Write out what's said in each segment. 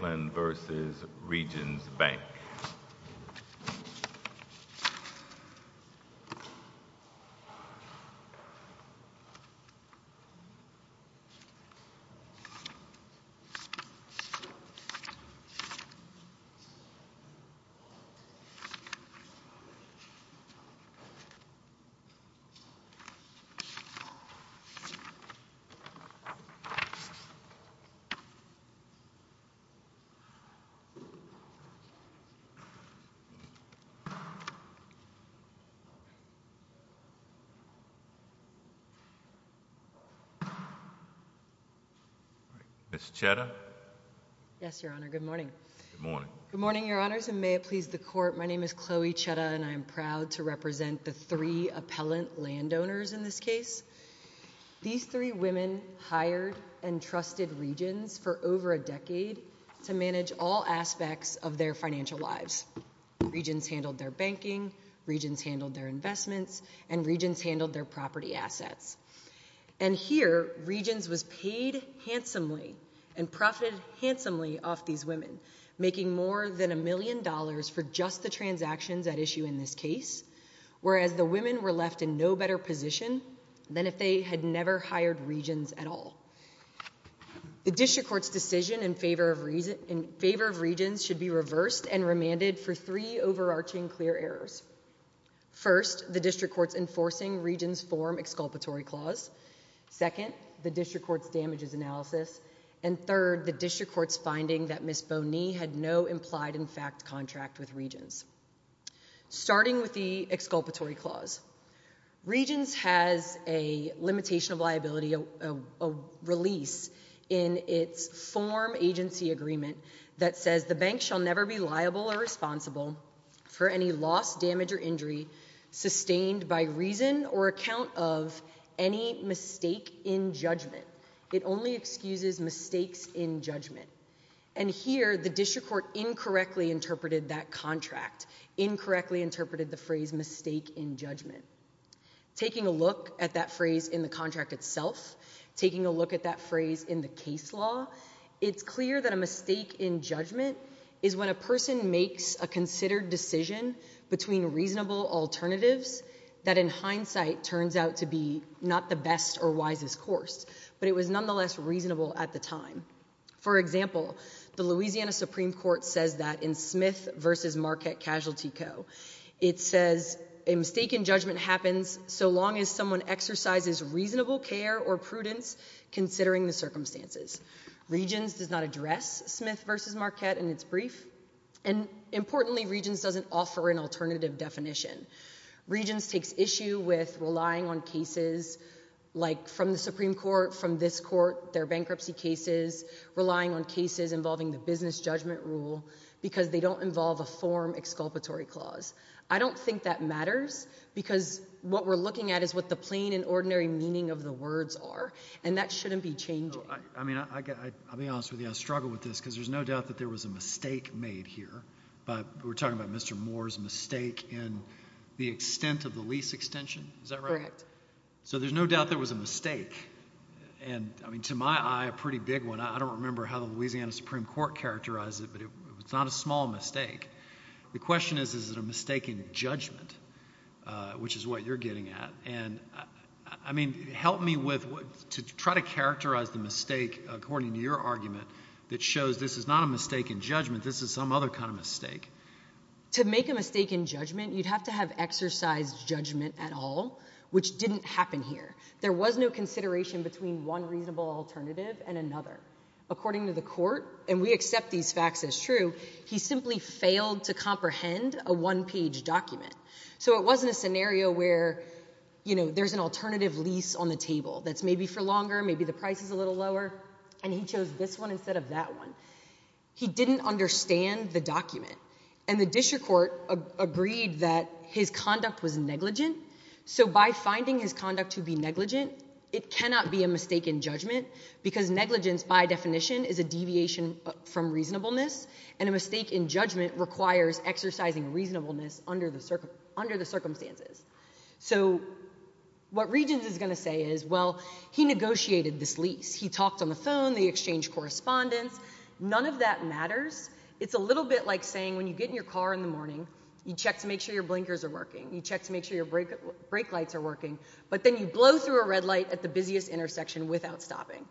Franklin v. Regions Bank Ms. Cheddar. Yes, Your Honor. Good morning. Good morning, Your Honors, and may it please the Court. My name is Chloe Cheddar, and I am proud to represent the three appellant to manage all aspects of their financial lives. Regions handled their banking, Regions handled their investments, and Regions handled their property assets. And here, Regions was paid handsomely and profited handsomely off these women, making more than a million dollars for just the transactions at issue in this case, whereas the women were left in no better position than if they had never hired Regions at all. The District Court's decision in favor of Regions should be reversed and remanded for three overarching clear errors. First, the District Court's enforcing Regions' form exculpatory clause. Second, the District Court's damages analysis. And third, the District Court's finding that Ms. Boney had no implied in fact contract with Regions. Starting with the exculpatory clause, Regions has a limitation of liability, a release in its form agency agreement that says the bank shall never be liable or responsible for any loss, damage, or injury sustained by reason or account of any mistake in judgment. It only excuses mistakes in judgment. And here, the District Court incorrectly interpreted that contract, incorrectly interpreted the phrase mistake in judgment. Taking a look at that phrase in the contract itself, taking a look at that phrase in the case law, it's clear that a mistake in judgment is when a person makes a considered decision between reasonable alternatives that in hindsight turns out to be not the best or wisest course, but it was nonetheless reasonable at the time. For example, the Louisiana Supreme Court says that in Smith v. Marquette Casualty Co., it says a mistake in judgment happens so long as someone exercises reasonable care or prudence considering the circumstances. Regions does not address Smith v. Marquette in its brief, and importantly, Regions doesn't offer an alternative definition. Regions takes issue with relying on cases like from the Supreme Court, from this rule, because they don't involve a form exculpatory clause. I don't think that matters, because what we're looking at is what the plain and ordinary meaning of the words are, and that shouldn't be changing. I mean, I'll be honest with you, I struggle with this because there's no doubt that there was a mistake made here, but we're talking about Mr. Moore's mistake in the extent of the lease extension, is that right? Correct. So there's no doubt there was a mistake, and I mean, to my eye, a pretty big one. I don't remember how the Louisiana Supreme Court characterized it, but it's not a small mistake. The question is, is it a mistake in judgment, which is what you're getting at, and I mean, help me with, to try to characterize the mistake according to your argument that shows this is not a mistake in judgment, this is some other kind of mistake. To make a mistake in judgment, you'd have to have exercised judgment at all, which didn't happen here. There was no consideration between one reasonable alternative and another. According to the court, and we accept these facts as true, he simply failed to comprehend a one-page document. So it wasn't a scenario where, you know, there's an alternative lease on the table that's maybe for longer, maybe the price is a little lower, and he chose this one instead of that one. He didn't understand the document, and the district court agreed that his conduct was negligent, so by finding his conduct to be negligent, it cannot be a mistake in judgment, because negligence by definition is a deviation from reasonableness, and a mistake in judgment requires exercising reasonableness under the circumstances. So what Regence is going to say is, well, he negotiated this lease, he talked on the phone, they exchanged correspondence, none of that matters. It's a little bit like saying when you get in your car in the morning, you check to make sure your blinkers are working, you check to make sure your brake lights are not stopping.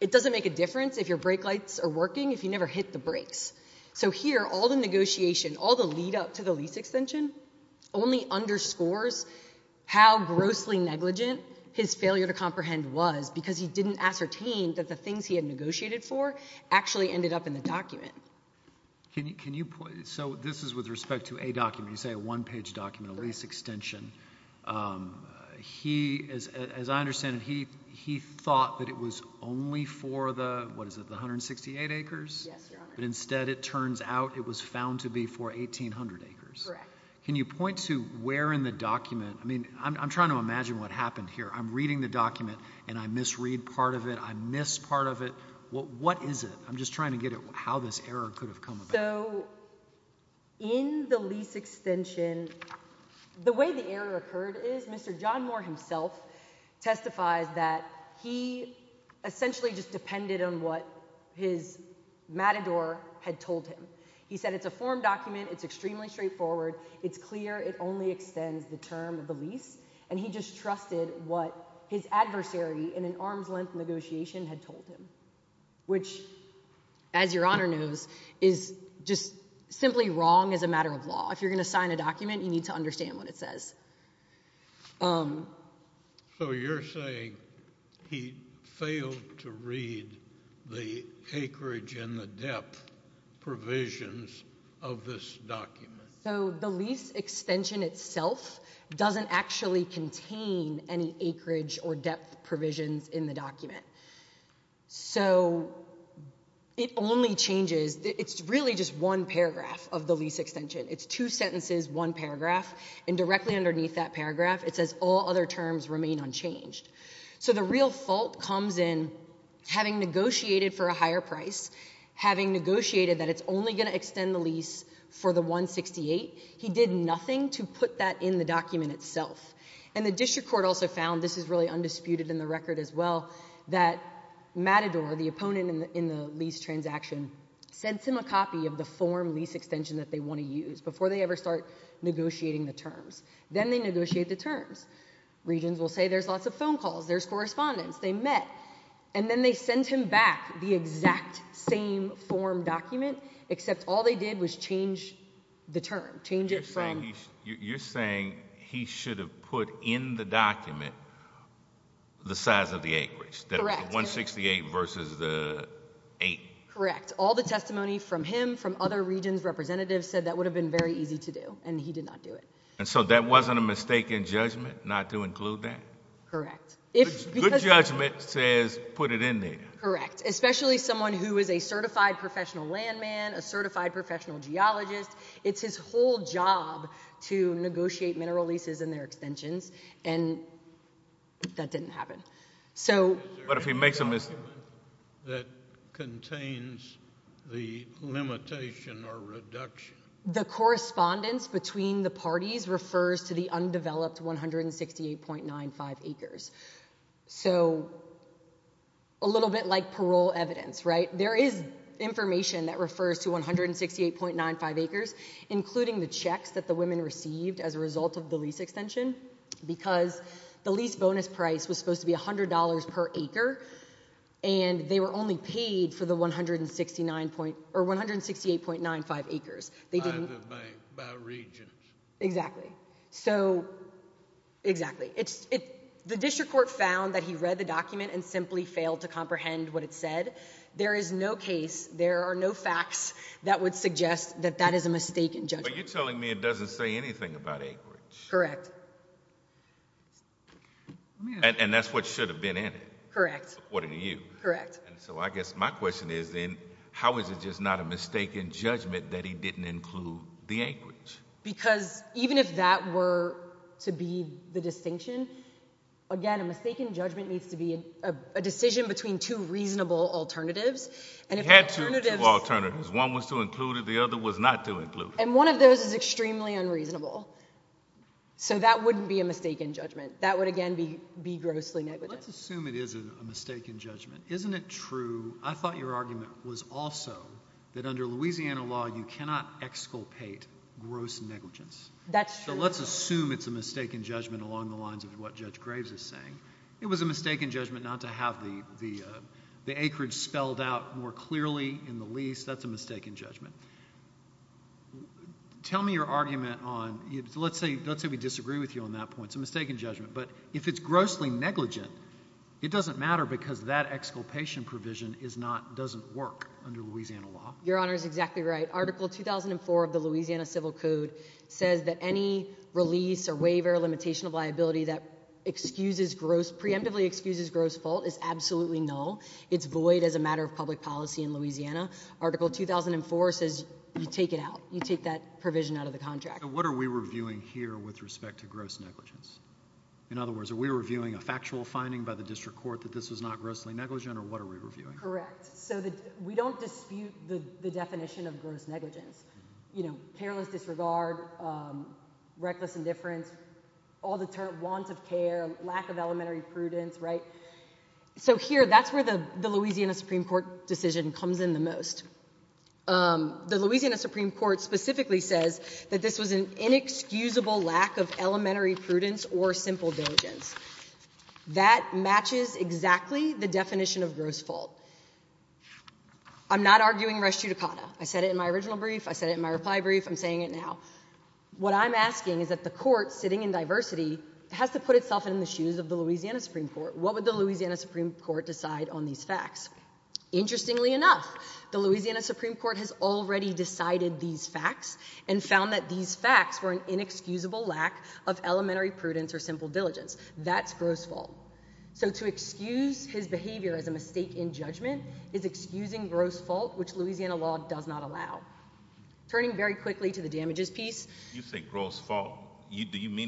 It doesn't make a difference if your brake lights are working if you never hit the brakes. So here, all the negotiation, all the lead up to the lease extension, only underscores how grossly negligent his failure to comprehend was, because he didn't ascertain that the things he had negotiated for actually ended up in the document. Can you, so this is with respect to a document, you say a one-page document, a lease extension. He, as I understand it, he thought that it was only for the, what is it, the 168 acres? Yes, Your Honor. But instead it turns out it was found to be for 1,800 acres. Correct. Can you point to where in the document, I mean, I'm trying to imagine what happened here. I'm reading the document and I misread part of it, I missed part of it. What is it? I'm just trying to get at how this error could have come about. So in the lease extension, the way the error occurred is Mr. John Moore himself testifies that he essentially just depended on what his matador had told him. He said it's a form document, it's extremely straightforward, it's clear, it only extends the term of the lease, and he just trusted what his as Your Honor knows is just simply wrong as a matter of law. If you're going to sign a document, you need to understand what it says. So you're saying he failed to read the acreage and the depth provisions of this document. So the lease extension itself doesn't actually contain any acreage or depth provisions in the document. So it only changes, it's really just one paragraph of the lease extension. It's two sentences, one paragraph, and directly underneath that paragraph it says all other terms remain unchanged. So the real fault comes in having negotiated for a higher price, having negotiated that it's only going to extend the lease for the 168. He did nothing to found, this is really undisputed in the record as well, that matador, the opponent in the lease transaction, sends him a copy of the form lease extension that they want to use before they ever start negotiating the terms. Then they negotiate the terms. Regions will say there's lots of phone calls, there's correspondence, they met, and then they send him back the exact same form document except all they did was change the term. Change it from... You're saying he should have put in the document the size of the acreage, the 168 versus the 8. Correct. All the testimony from him, from other regions representatives said that would have been very easy to do and he did not do it. And so that wasn't a mistake in judgment not to include that? Correct. Good judgment says put it in there. Correct. Especially someone who is a certified professional landman, a certified landowner, and that didn't happen. But if he makes a mistake... That contains the limitation or reduction? The correspondence between the parties refers to the undeveloped 168.95 acres. So a little bit like parole evidence, right? There is information that refers to 168.95 acres including the checks that the women received as a result of the lease extension because the lease bonus price was supposed to be $100 per acre and they were only paid for the 169 point or 168.95 acres. By the bank, by regents. Exactly. So, exactly. It's... The district court found that he read the document and simply failed to comprehend what it said. There is no case, there are no facts that would suggest that that is a mistake in judgment. You're telling me it doesn't say anything about acreage? Correct. And that's what should have been in it? Correct. According to you? Correct. So I guess my question is then how is it just not a mistake in judgment that he didn't include the acreage? Because even if that were to be the distinction, again a mistake in judgment needs to be a decision between two reasonable alternatives. You had two alternatives. One was to include it, the other was not to include it. One of those is extremely unreasonable. So that wouldn't be a mistake in judgment. That would again be grossly negligent. Let's assume it is a mistake in judgment. Isn't it true, I thought your argument was also that under Louisiana law you cannot exculpate gross negligence. That's true. So let's assume it's a mistake in judgment along the lines of what Judge Graves is saying. It was a mistake in judgment not to have the acreage spelled out more clearly in the lease. That's a mistake in judgment. Tell me your argument on, let's say let's say we disagree with you on that point. It's a mistake in judgment, but if it's grossly negligent it doesn't matter because that exculpation provision is not, doesn't work under Louisiana law. Your honor is exactly right. Article 2004 of the Louisiana Civil Code says that any release or waiver limitation of liability that excuses gross, preemptively excuses gross fault is absolutely null. It's void as a matter of public policy in Louisiana. Article 2004 says you take it out. You take that provision out of the contract. What are we reviewing here with respect to gross negligence? In other words, are we reviewing a factual finding by the district court that this was not grossly negligent or what are we reviewing? Correct. So that we don't dispute the definition of gross negligence. You know, careless disregard, reckless indifference, all the want of care, lack of elementary prudence, right? So here, that's where the Louisiana Supreme Court decision comes in the most. The Louisiana Supreme Court specifically says that this was an inexcusable lack of elementary prudence or simple diligence. That matches exactly the definition of gross fault. I'm not arguing res judicata. I said it in my original brief. I said it in my reply brief. I'm saying it now. What I'm asking is the court sitting in diversity has to put itself in the shoes of the Louisiana Supreme Court. What would the Louisiana Supreme Court decide on these facts? Interestingly enough, the Louisiana Supreme Court has already decided these facts and found that these facts were an inexcusable lack of elementary prudence or simple diligence. That's gross fault. So to excuse his behavior as a mistake in judgment is excusing gross fault which Louisiana law does not allow. Turning very quickly to the Do you mean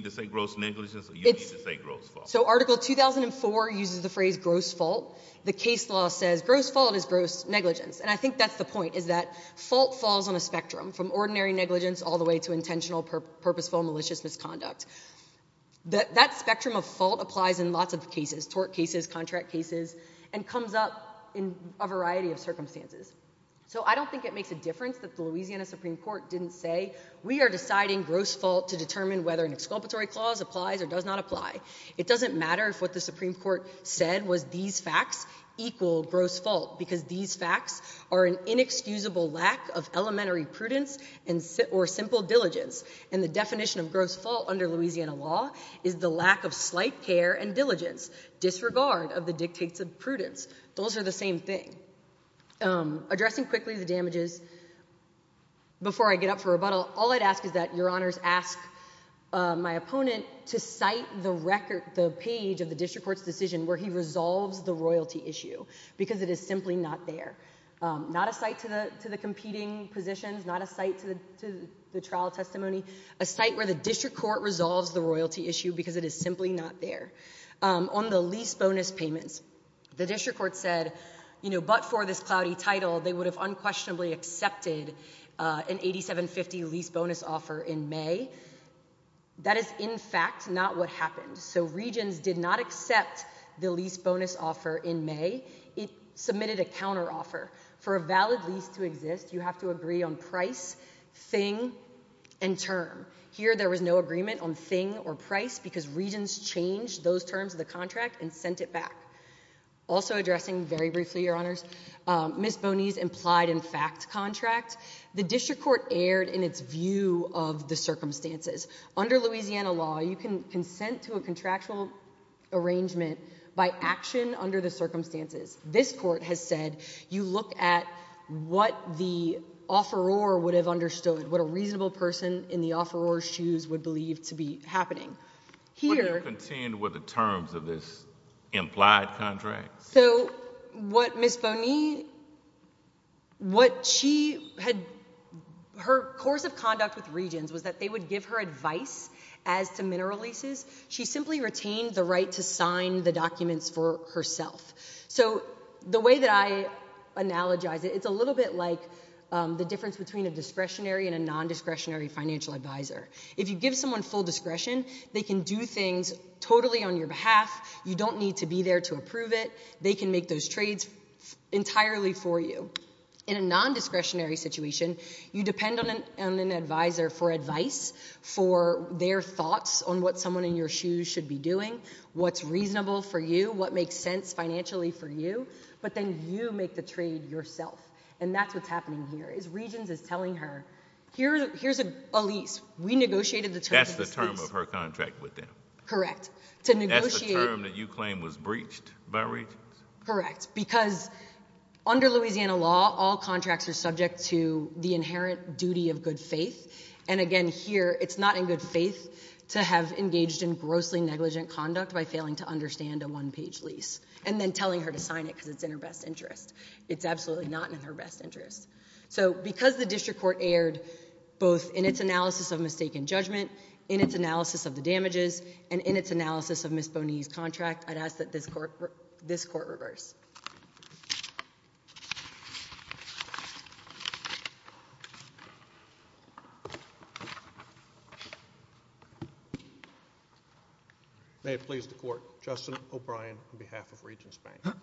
to say gross negligence or do you mean to say gross fault? So article 2004 uses the phrase gross fault. The case law says gross fault is gross negligence and I think that's the point is that fault falls on a spectrum from ordinary negligence all the way to intentional purposeful malicious misconduct. That spectrum of fault applies in lots of cases, tort cases, contract cases, and comes up in a variety of circumstances. So I don't think it makes a difference that the whether an exculpatory clause applies or does not apply. It doesn't matter if what the Supreme Court said was these facts equal gross fault because these facts are an inexcusable lack of elementary prudence or simple diligence and the definition of gross fault under Louisiana law is the lack of slight care and diligence, disregard of the dictates of prudence. Those are the same thing. Addressing quickly the damages, before I get up for rebuttal, all I'd ask is that your my opponent to cite the record the page of the district court's decision where he resolves the royalty issue because it is simply not there. Not a site to the to the competing positions, not a site to the to the trial testimony, a site where the district court resolves the royalty issue because it is simply not there. On the lease bonus payments, the district court said you know but for this cloudy title they would have unquestionably accepted an 8750 lease bonus offer in May that is in fact not what happened. So Regions did not accept the lease bonus offer in May, it submitted a counter offer. For a valid lease to exist you have to agree on price, thing and term. Here there was no agreement on thing or price because Regions changed those terms of the contract and sent it back. Also addressing very briefly your honors, Ms. Boney's implied in fact contract, the district court erred in its view of the circumstances. Under Louisiana law you can consent to a contractual arrangement by action under the circumstances. This court has said you look at what the offeror would have understood, what a reasonable person in the offeror's shoes would believe to be happening. Here... What do you contend with the terms of this implied contract? So what Ms. Boney, what she had, her course of conduct with Regions was that they would give her advice as to mineral leases. She simply retained the right to sign the documents for herself. So the way that I analogize it, it's a little bit like the difference between a discretionary and a non-discretionary financial advisor. If you give someone full discretion they can do things totally on your behalf. You don't need to be there to approve it. They can make those trades entirely for you. In a non-discretionary situation you depend on an advisor for advice, for their thoughts on what someone in your shoes should be doing, what's reasonable for you, what makes sense financially for you, but then you make the trade yourself. And that's what's happening here is Regions is telling her, here's a lease. We negotiated the terms. That's the term of her contract with them. Correct. That's the term that you claim was breached by Regions? Correct. Because under Louisiana law all contracts are subject to the inherent duty of good faith and again here it's not in good faith to have engaged in grossly negligent conduct by failing to understand a one-page lease and then telling her to sign it because it's in her best interest. It's absolutely not in her best interest. So because the district court erred both in its analysis of mistaken judgment, in its analysis of the damages, and in its analysis of Ms. Bonny's contract, I'd ask that this court reverse. May it please the court. Justin O'Brien on behalf of Regions Bank.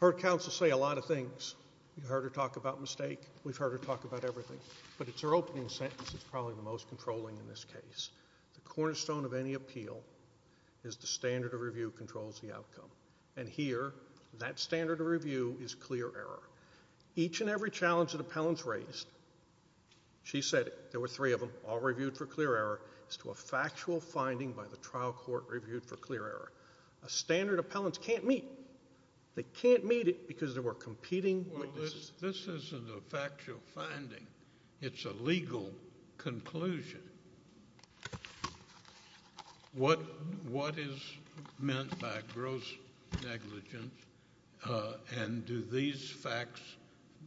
Heard counsel say a lot of things. You heard her talk about mistake. We've heard her talk about everything, but it's her opening sentence that's probably the most controlling in this case. The cornerstone of any appeal is the standard of review controls the outcome and here that standard of review is clear error. Each and every challenge that appellants raised, she said there were three of them, all reviewed for clear error, is to a factual finding by the trial court reviewed for clear error. A standard appellant can't meet. They can't meet it because there were competing witnesses. This isn't a factual finding. It's a legal conclusion. What is meant by gross negligence and do these facts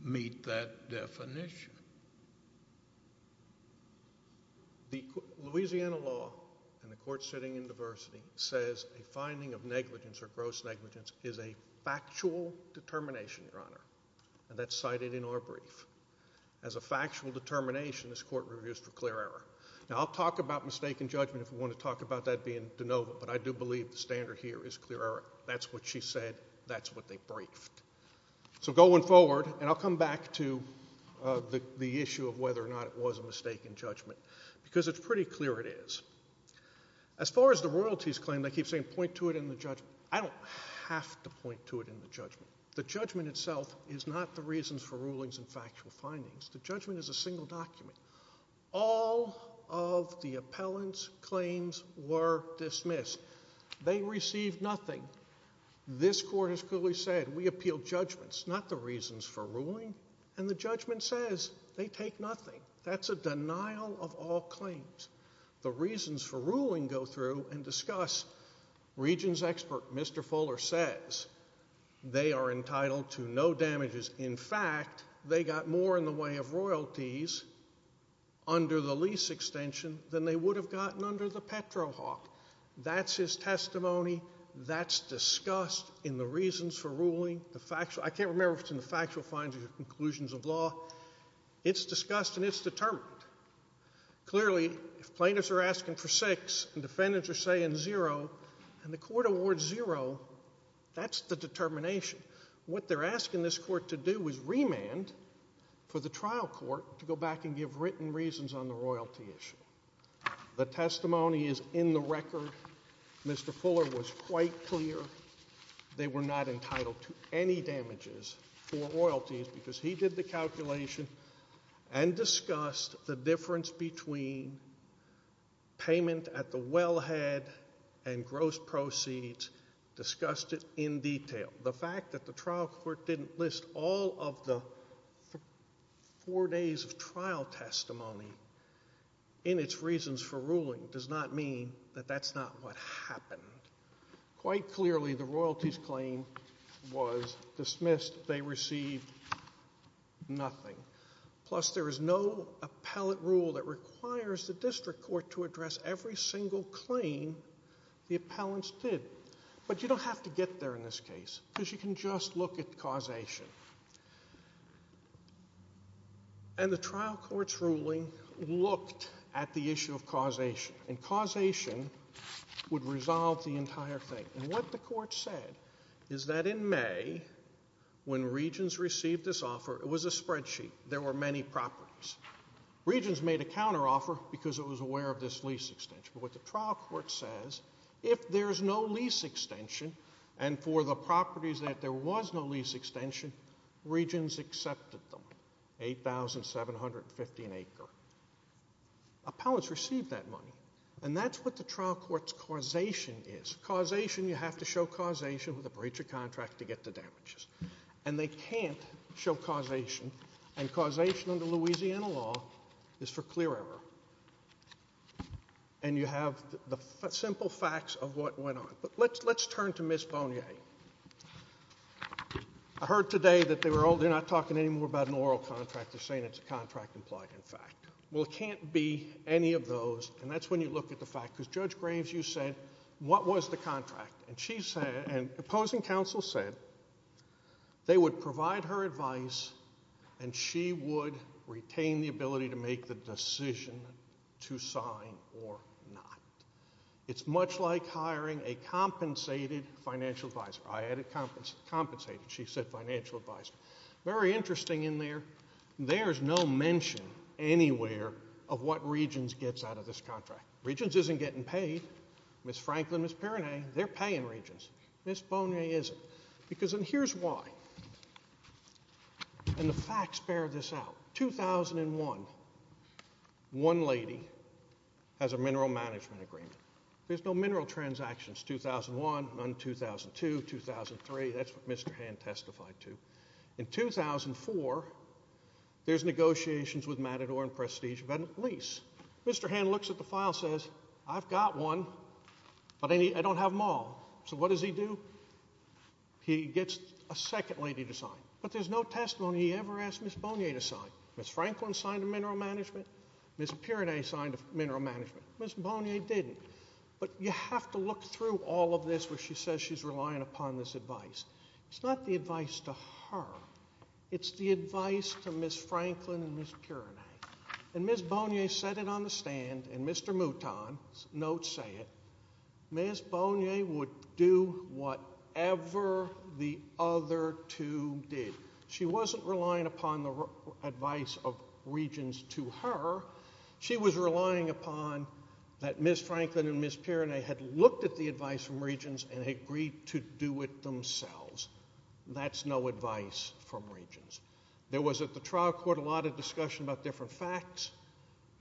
meet that definition? The Louisiana law and the court sitting in diversity says a finding of negligence or gross negligence is a factual determination this court reviews for clear error. Now I'll talk about mistaken judgment if we want to talk about that being de novo, but I do believe the standard here is clear error. That's what she said. That's what they briefed. So going forward and I'll come back to the issue of whether or not it was a mistaken judgment because it's pretty clear it is. As far as the royalties claim, they keep saying point to it in the judgment. I don't have to point to it in the judgment. The judgment itself is not the reasons for rulings and factual findings. The judgment is a single document. All of the appellant's claims were dismissed. They received nothing. This court has clearly said we appeal judgments not the reasons for ruling and the judgment says they take nothing. That's a denial of all claims. The reasons for ruling go through and discuss. Regions expert Mr. Fuller says they are entitled to no damages. In fact, they got more in the way of royalties under the lease extension than they would have gotten under the petrohawk. That's his testimony. That's discussed in the reasons for ruling. I can't remember if it's in the factual findings or conclusions of law. It's discussed and it's determined. Clearly, if plaintiffs are asking for six and defendants are saying zero and the court awards zero, that's the determination. What they're asking this court to do is remand for the trial court to go back and give written reasons on the royalty issue. The testimony is in the record. Mr. Fuller was quite clear they were not entitled to any damages for royalties because he did the discussed it in detail. The fact that the trial court didn't list all of the four days of trial testimony in its reasons for ruling does not mean that that's not what happened. Quite clearly, the royalties claim was dismissed. They received nothing. Plus, there is no appellate rule that requires the district court to address every single claim the appellants did. You don't have to get there in this case because you can just look at causation. The trial court's ruling looked at the issue of causation. Causation would resolve the entire thing. What the court said is that in May, when Regents received this offer, it was a spreadsheet. There were many properties. Regents made a counteroffer because it was aware of this extension. What the trial court says, if there's no lease extension and for the properties that there was no lease extension, Regents accepted them, 8,750 an acre. Appellants received that money. That's what the trial court's causation is. Causation, you have to show causation with a breach of contract to get the damages. They can't show causation. Causation under Louisiana law is for clear error. You have the simple facts of what went on. Let's turn to Ms. Bonnier. I heard today that they're not talking anymore about an oral contract. They're saying it's a contract implied, in fact. It can't be any of those. That's when you look at the fact. Judge Graves, you said, what was the contract? Opposing counsel said they would provide her advice and she would retain the ability to make the decision to sign or not. It's much like hiring a compensated financial advisor. I added compensated. She said financial advisor. Very interesting in there. There's no mention anywhere of what Regents gets out of this contract. Regents isn't getting paid. Ms. Franklin, Ms. Piranay, they're paying Regents. Ms. Bonnier isn't. Here's why. The facts bear this out. 2001, one lady has a mineral management agreement. There's no mineral transactions. 2001, none. 2002, 2003, that's what Mr. Hand testified to. In 2004, there's negotiations with Matador and Prestige. Mr. Hand looks at the file and says, I've got one, but I don't have them all. So what does he do? He gets a second lady to sign. But there's no testimony he ever asked Ms. Bonnier to sign. Ms. Franklin signed a mineral management. Ms. Piranay signed a mineral management. Ms. Bonnier didn't. But you have to look through all of this where she says she's relying upon this advice. It's not the advice to her. It's the notes say it. Ms. Bonnier would do whatever the other two did. She wasn't relying upon the advice of Regents to her. She was relying upon that Ms. Franklin and Ms. Piranay had looked at the advice from Regents and agreed to do it themselves. That's no advice from Regents. There was at the trial court a lot of discussion about different facts,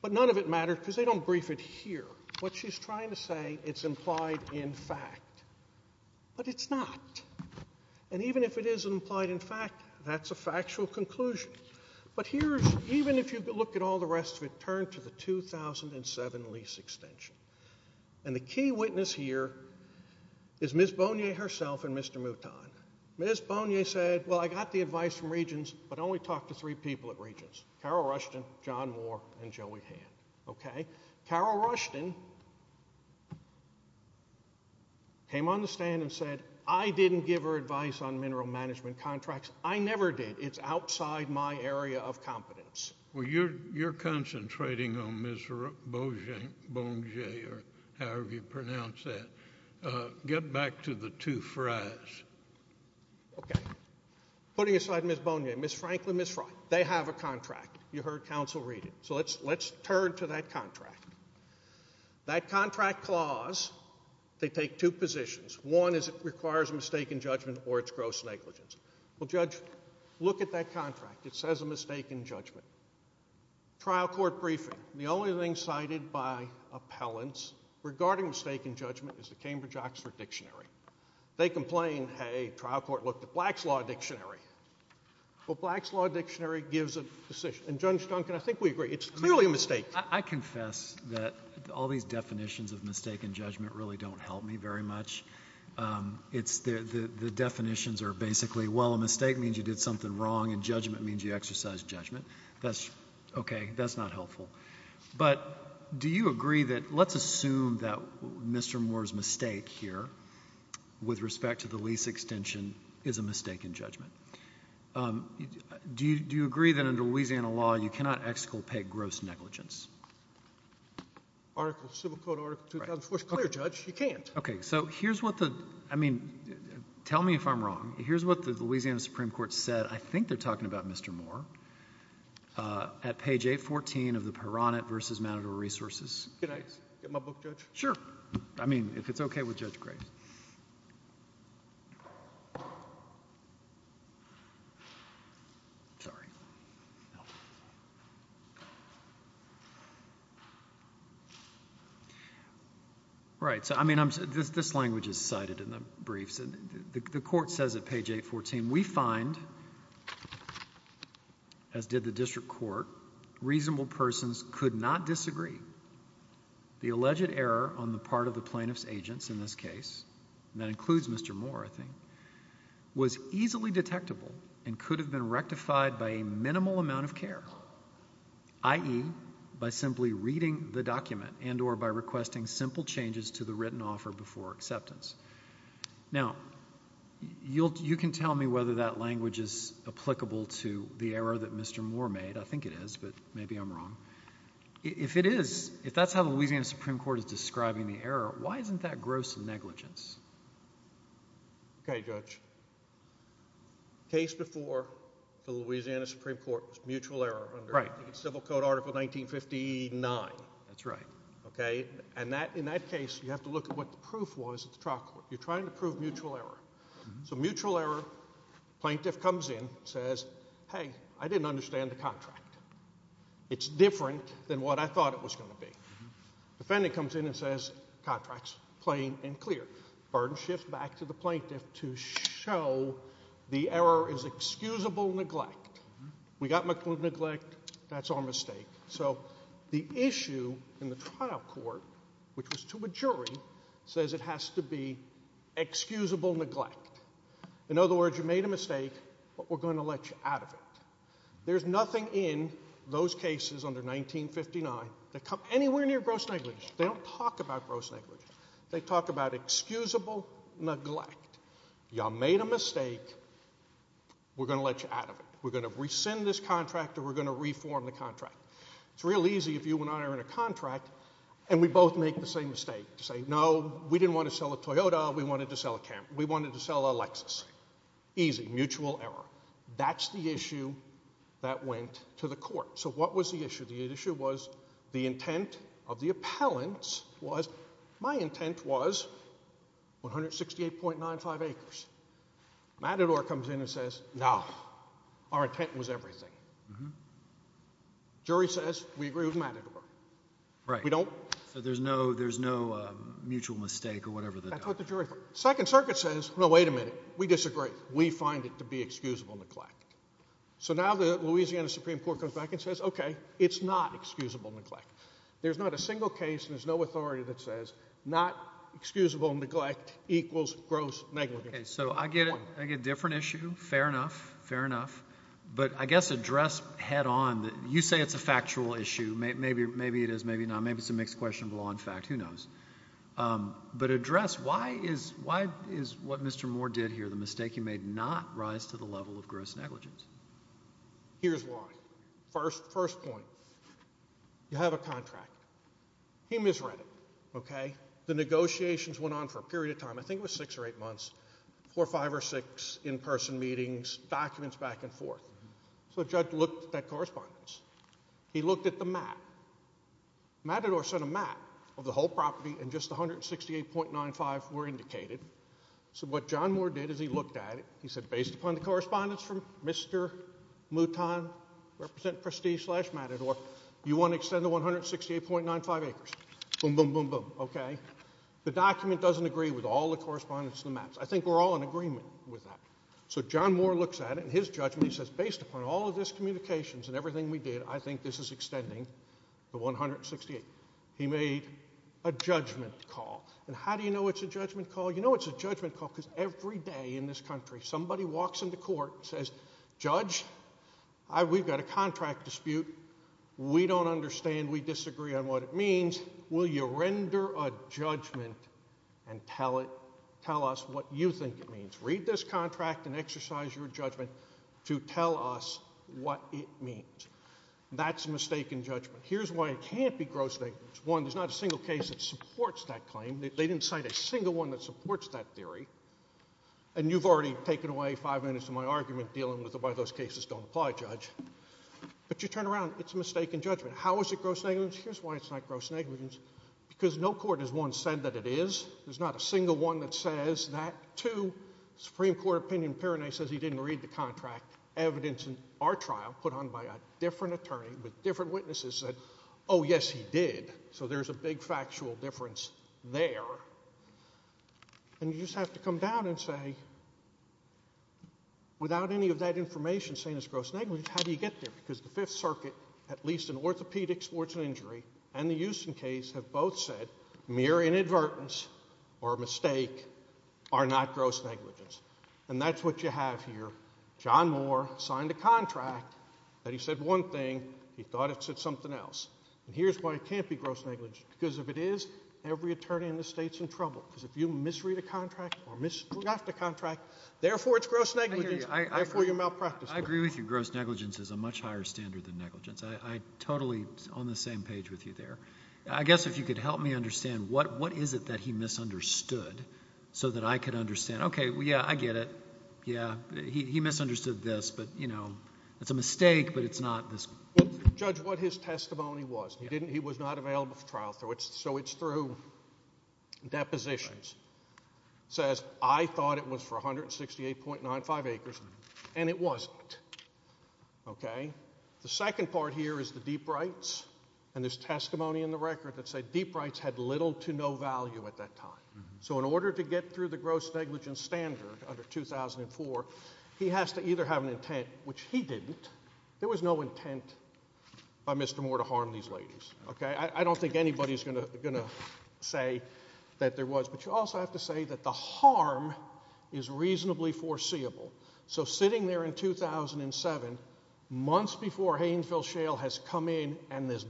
but none of it mattered because they don't adhere. What she's trying to say, it's implied in fact. But it's not. And even if it is implied in fact, that's a factual conclusion. But here, even if you look at all the rest of it, turn to the 2007 lease extension. And the key witness here is Ms. Bonnier herself and Mr. Mouton. Ms. Bonnier said, well, I got the advice from Regents, but only talked to three people at the time. Carol Rushton came on the stand and said, I didn't give her advice on mineral management contracts. I never did. It's outside my area of competence. Well, you're concentrating on Ms. Bonnier, or however you pronounce that. Get back to the two fries. Okay. Putting aside Ms. Bonnier, Ms. Franklin, Ms. Frye, they have a contract. You turn to that contract. That contract clause, they take two positions. One is it requires a mistaken judgment or it's gross negligence. Well, Judge, look at that contract. It says a mistaken judgment. Trial court briefing. The only thing cited by appellants regarding mistaken judgment is the Cambridge-Oxford Dictionary. They complain, hey, trial court looked at Black's Law Dictionary. Well, Black's Law Dictionary gives a decision. And Judge Duncan, I think we agree. It's clearly a mistake. I confess that all these definitions of mistaken judgment really don't help me very much. The definitions are basically, well, a mistake means you did something wrong, and judgment means you exercise judgment. That's okay. That's not helpful. But do you agree that, let's assume that Mr. Moore's mistake here with respect to the gross negligence? Article, Civil Code Article 2004, it's clear, Judge. You can't. Okay. So here's what the, I mean, tell me if I'm wrong. Here's what the Louisiana Supreme Court said. I think they're talking about Mr. Moore at page 814 of the Peronet versus Manador Resources. Can I get my book, Judge? Sure. I mean, if it's okay with Judge Grace. Sorry. Right. So, I mean, I'm, this language is cited in the briefs. The court says at page 814, we find, as did the district court, reasonable persons could not disagree. The alleged error on the part of the plaintiff's agents in this case, and that includes Mr. Moore, I think, was easily detectable and could have been rectified by a minimal amount of care, i.e., by simply reading the document and or by requesting simple changes to the written offer before acceptance. Now, you can tell me whether that language is applicable to the error that I'm describing. If that's how the Louisiana Supreme Court is describing the error, why isn't that gross negligence? Okay, Judge. Case before the Louisiana Supreme Court was mutual error under Civil Code Article 1959. That's right. Okay. And that, in that case, you have to look at what the proof was at the trial court. You're trying to prove mutual error. So mutual error, plaintiff comes in, says, hey, I didn't understand the contract. It's different than what I thought it was going to be. Defendant comes in and says, contract's plain and clear. Burden shifts back to the plaintiff to show the error is excusable neglect. We got McClude neglect. That's our mistake. So the issue in the trial court, which was to a jury, says it has to be excusable neglect. In other words, you made a mistake, but we're going to let you out of it. There's nothing in those cases under 1959 that come anywhere near gross negligence. They don't talk about gross negligence. They talk about excusable neglect. Y'all made a mistake. We're going to let you out of it. We're going to rescind this contract or we're going to reform the contract. It's real easy if you and I are in a contract and we both make the same mistake. Say, no, we didn't want to sell a Toyota. We wanted to sell a Lexus. Easy, mutual error. That's the issue that went to the court. So what was the issue? The issue was the intent of the appellants was, my intent was 168.95 acres. Matador comes in and says, no, our intent was everything. Jury says, we agree with Matador. Right. We don't. So there's no mutual mistake or whatever. That's what the jury thought. Second Circuit says, no, wait a minute. We disagree. We find it to be excusable neglect. So now the Louisiana Supreme Court comes back and says, okay, it's not excusable neglect. There's not a single case and there's no authority that says not excusable neglect equals gross negligence. So I get it. I get a different issue. Fair enough. Fair enough. But I guess address head on that you say it's a factual issue. Maybe it is, maybe not. Maybe it's a mixed question of law and fact. Who knows? But address why is what Mr. Moore did here the mistake he made not rise to the level of gross negligence? Here's why. First point. You have a contract. He misread it. Okay. The negotiations went on for a period of time. I think it was six or eight months. Four or five or six in-person meetings, documents back and forth. So the judge looked at that correspondence. He looked at the map. Matador sent a map of the whole property and just 168.95 were indicated. So what John Moore did is he looked at it. He said, based upon the correspondence from Mr. Mouton represent Prestige slash Matador, you want to extend the 168.95 acres. Boom, boom, boom, boom. Okay. The document doesn't agree with all the correspondence in the maps. I think we're all in agreement with that. So John Moore looks at it and his judgment, he says, based upon all of this communications and everything we did, I think this is extending the 168. He made a judgment call. And how do you know it's a judgment call? You know it's a judgment call because every day in this country somebody walks into court and says, judge, we've got a contract dispute. We don't understand. We disagree on what it means. Will you render a judgment and tell us what you think it means? Read this contract and exercise your judgment to tell us what it means. That's a mistaken judgment. Here's why it can't be gross negligence. One, there's not a single case that supports that claim. They didn't cite a single one that supports that theory. And you've already taken away five minutes of my argument dealing with why those cases don't apply, judge. But you turn around, it's a mistaken judgment. How is it gross negligence? Here's why it's not gross negligence. Because no court has once said that it is. There's not a single one that says that. Two, the Supreme Court opinion in Pyrenees says he didn't read the contract. Evidence in our trial put on by a different attorney with different witnesses said, oh, yes, he did. So there's a big factual difference there. And you just have to come down and say, without any of that information saying it's gross negligence, how do you get there? Because the Fifth Circuit, at least in orthopedics, sports and injury, and the Euston case have both said mere inadvertence or mistake are not gross negligence. And that's what you have here. John Moore signed a contract that he said one thing. He thought it said something else. And here's why it can't be gross negligence. Because if it is, every attorney in the state's in trouble. Because if you misread a contract or misdraft a contract, therefore it's gross negligence. Therefore, you're malpracticing. I agree with you. Gross negligence is a much higher standard than So let me understand. What is it that he misunderstood so that I could understand? Okay. Yeah, I get it. Yeah. He misunderstood this. But, you know, it's a mistake, but it's not this. Judge, what his testimony was. He was not available for trial. So it's through depositions. Says, I thought it was for 168.95 acres. And it wasn't. Okay. The second part here is the deep rights. And there's testimony in the record that said deep rights had little to no value at that time. So in order to get through the gross negligence standard under 2004, he has to either have an intent, which he didn't. There was no intent by Mr. Moore to harm these ladies. Okay. I don't think anybody's gonna say that there was. But you also have to say that the guys come in and this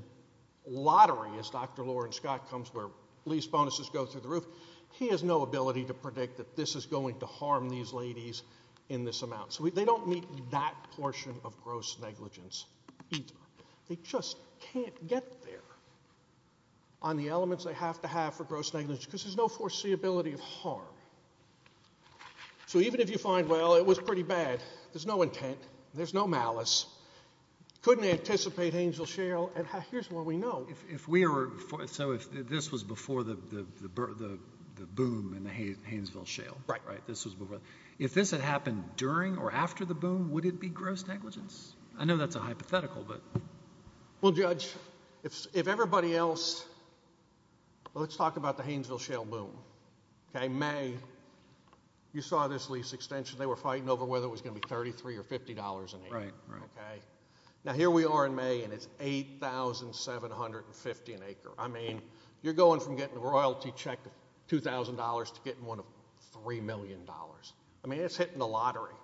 lottery, as Dr. Loren Scott comes where lease bonuses go through the roof, he has no ability to predict that this is going to harm these ladies in this amount. So they don't meet that portion of gross negligence either. They just can't get there on the elements they have to have for gross negligence because there's no foreseeability of harm. So even if you find, well, it was pretty bad. There's no intent. There's no malice. Couldn't anticipate Haynesville Shale. And here's what we know. If we were, so if this was before the boom in the Haynesville Shale. Right. Right. This was before. If this had happened during or after the boom, would it be gross negligence? I know that's a hypothetical, but. Well, Judge, if everybody else, let's talk about the Haynesville Shale boom. Okay. May, you saw this lease extension. They were fighting over whether it was going to be $33 or $50 an acre. Right. Right. Okay. Now here we are in May and it's $8,750 an acre. I mean, you're going from getting a royalty check of $2,000 to getting one of $3 million. I mean, it's hitting the lottery.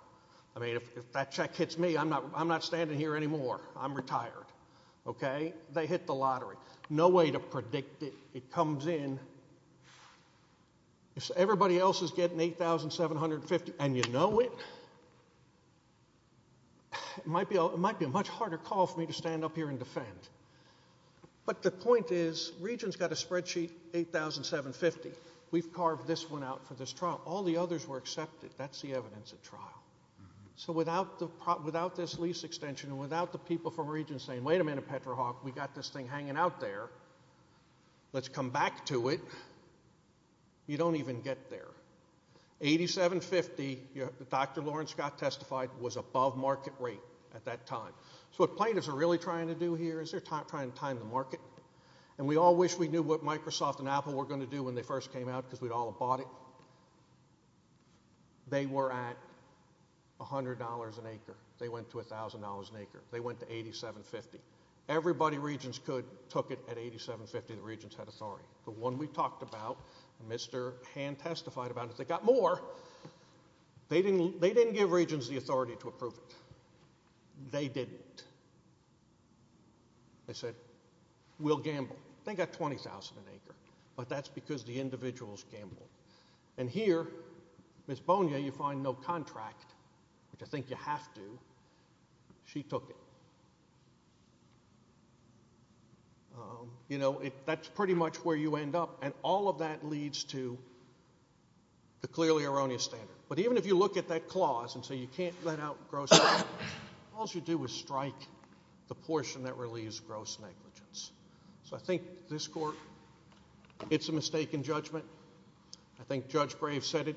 I mean, if that check hits me, I'm not standing here anymore. I'm retired. Okay. They hit the lottery. No way to predict it. It comes in. If everybody else is getting $8,750 and you know it, it might be a much harder call for me to stand up here and defend. But the point is, Regents got a spreadsheet, $8,750. We've carved this one out for this trial. All the others were accepted. That's the evidence at trial. So without this lease extension, without the people from Regents saying, wait a minute, PetroHawk, we got this thing hanging out there. Let's come back to it. You don't even get there. $8,750, Dr. Lawrence got testified, was above market rate at that time. So what plaintiffs are really trying to do here is they're trying to time the market. And we all wish we knew what Microsoft and Apple were going to do when they first came out because we'd all bought it. They were at $100 an acre. They went to $1,000 an acre. They went to $8,750. Everybody Regents could took it at $8,750. The Regents had authority. The one we talked about, Mr. Hand testified about it. They got more. They didn't give Regents the authority to approve it. They didn't. They said, we'll gamble. They got $20,000 an acre. But that's because the individuals gambled. And here, Ms. Bonia, you find no contract, which I think you have to. She took it. That's pretty much where you end up. And all of that leads to the clearly erroneous standard. But even if you look at that clause and say you can't let out gross, all you do is strike the portion that relieves gross negligence. So I think this court, it's a mistake in judgment. I think Judge Graves said it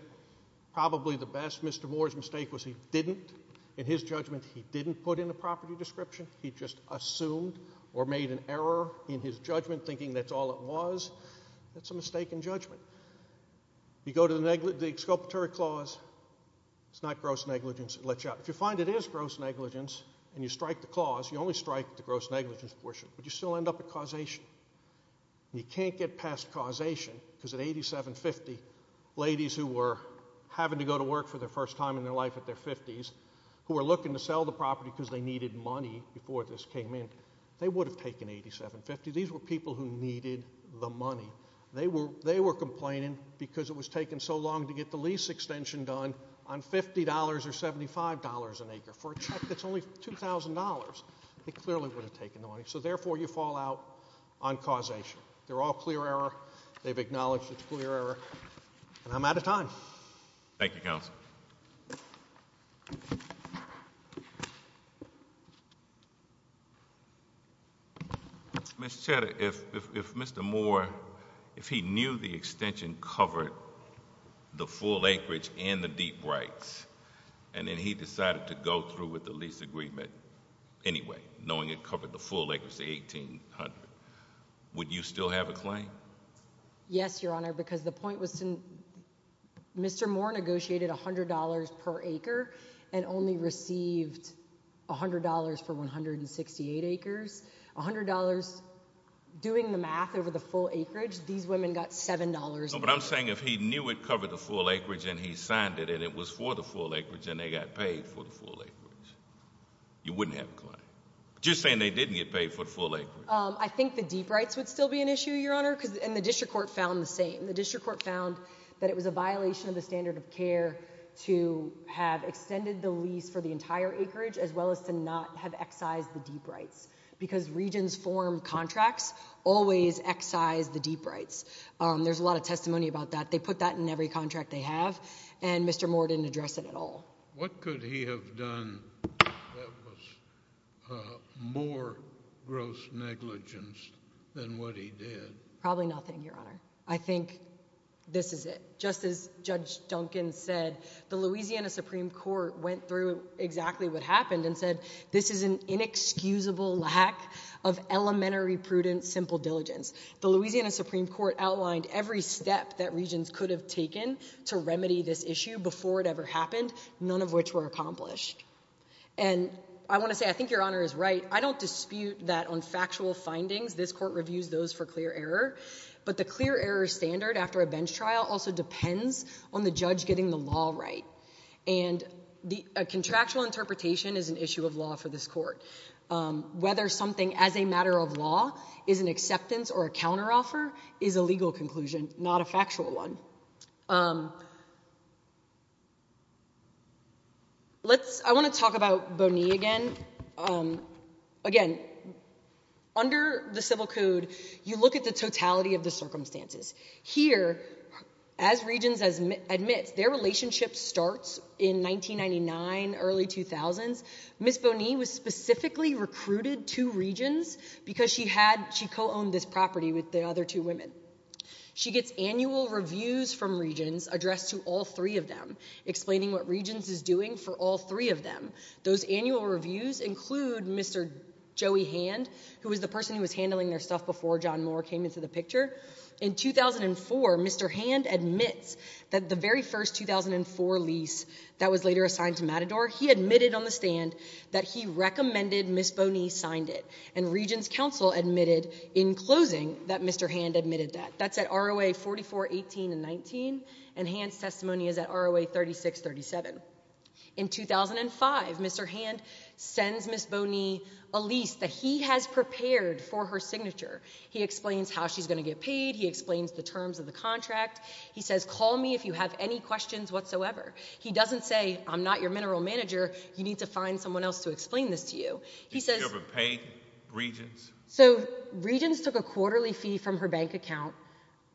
probably the best. Mr. Moore's mistake was he didn't. In his judgment, he didn't put in a property description. He just assumed or made an error in his judgment thinking that's all it was. That's a mistake in judgment. You go to the exculpatory clause. It's not gross negligence. It lets you out. If you find it is gross negligence and you strike the clause, you only strike the gross negligence portion. But you still end up causation. You can't get past causation because at $87.50, ladies who were having to go to work for the first time in their life at their 50s, who were looking to sell the property because they needed money before this came in, they would have taken $87.50. These were people who needed the money. They were complaining because it was taking so long to get the lease extension done on $50 or $75 an acre for a check that's only $2,000. They clearly would have taken the money. Therefore, you fall out on causation. They're all clear error. They've acknowledged it's clear error. I'm out of time. Thank you, counsel. Mr. Cheddar, if Mr. Moore, if he knew the extension covered the full acreage and the deep rights, and then he decided to go through with the lease agreement anyway, knowing it covered the full acreage to $1,800, would you still have a claim? Yes, Your Honor, because the point was, Mr. Moore negotiated $100 per acre and only received $100 for 168 acres. $100, doing the math over the full acreage, these women got $7. No, but I'm saying if he knew it covered the full acreage and he signed it and it was for the full acreage and they got paid for the full acreage, you wouldn't have a claim. Just saying they didn't get paid for the full acreage. I think the deep rights would still be an issue, Your Honor, and the district court found the same. The district court found that it was a violation of the standard of care to have extended the lease for the entire acreage as well as to not have excised the deep rights because regions form contracts always excise the deep rights. There's a lot of testimony about that. They put that in every contract they have, and Mr. Moore didn't address it at all. What could he have done that was more gross negligence than what he did? Probably nothing, Your Honor. I think this is it. Just as Judge Duncan said, the Louisiana Supreme Court went through exactly what happened and said, this is an inexcusable lack of elementary prudent, simple diligence. The Louisiana Supreme Court outlined every step that regions could have taken to remedy this issue before it ever happened, none of which were accomplished. And I want to say, I think Your Honor is right. I don't dispute that on factual findings, this court reviews those for clear error, but the clear error standard after a bench trial also depends on the judge getting the law right. And a contractual interpretation is an issue of law for this court. Whether something as a matter of law is an acceptance or a counteroffer is a legal conclusion, not a factual one. I want to talk about Bonnie again. Again, under the Civil Code, you look at the totality of the circumstances. Here, as regions admit, their relationship starts in 1999, early 2000s. Ms. Bonnie was specifically recruited to regions because she co-owned this property with the other two women. She gets annual reviews from regions addressed to all three of them, explaining what regions is doing for all three of them. Those annual reviews include Mr. Joey Hand, who was the person who was handling their stuff before John Moore came into the that was later assigned to Matador. He admitted on the stand that he recommended Ms. Bonnie signed it. And regions counsel admitted in closing that Mr. Hand admitted that. That's at ROA 4418 and 19, and Hand's testimony is at ROA 3637. In 2005, Mr. Hand sends Ms. Bonnie a lease that he has prepared for her signature. He explains how she's going to get paid. He explains the terms of the I'm not your mineral manager. You need to find someone else to explain this to you. Have you ever paid regions? So, regions took a quarterly fee from her bank account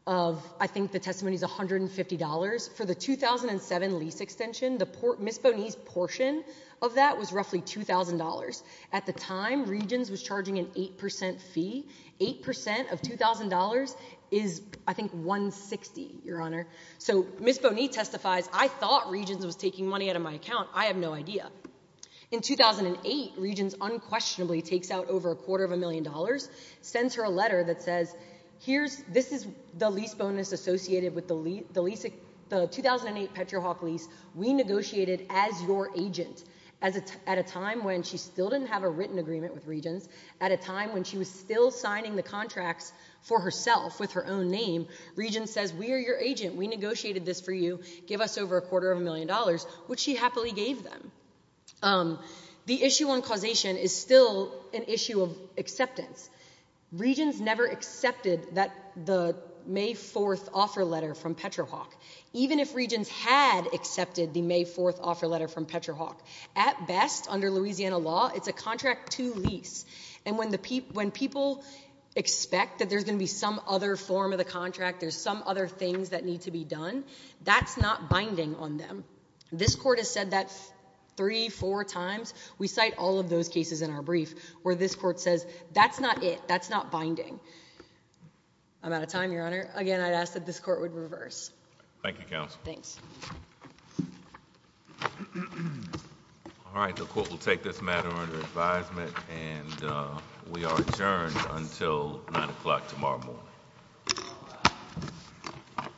of, I think the testimony is $150. For the 2007 lease extension, Ms. Bonnie's portion of that was roughly $2,000. At the time, regions was charging an 8% fee. 8% of $2,000 is, I think, $160, Your Honor. So, Ms. Bonnie testifies, I thought regions was taking money out of my account. I have no idea. In 2008, regions unquestionably takes out over a quarter of a million dollars, sends her a letter that says, this is the lease bonus associated with the 2008 PetroHawk lease. We negotiated as your agent at a time when she still didn't have a written agreement with contracts for herself with her own name. Regions says, we are your agent. We negotiated this for you. Give us over a quarter of a million dollars, which she happily gave them. The issue on causation is still an issue of acceptance. Regions never accepted the May 4th offer letter from PetroHawk, even if regions had accepted the May 4th offer letter from PetroHawk. At best, under Louisiana law, it's a contract to lease. And when people expect that there's going to be some other form of the contract, there's some other things that need to be done, that's not binding on them. This court has said that three, four times. We cite all of those cases in our brief, where this court says, that's not it. That's not binding. I'm out of time, Your Honor. Again, I'd this court would reverse. Thank you, counsel. Thanks. All right, the court will take this matter under advisement and we are adjourned until nine o'clock tomorrow morning.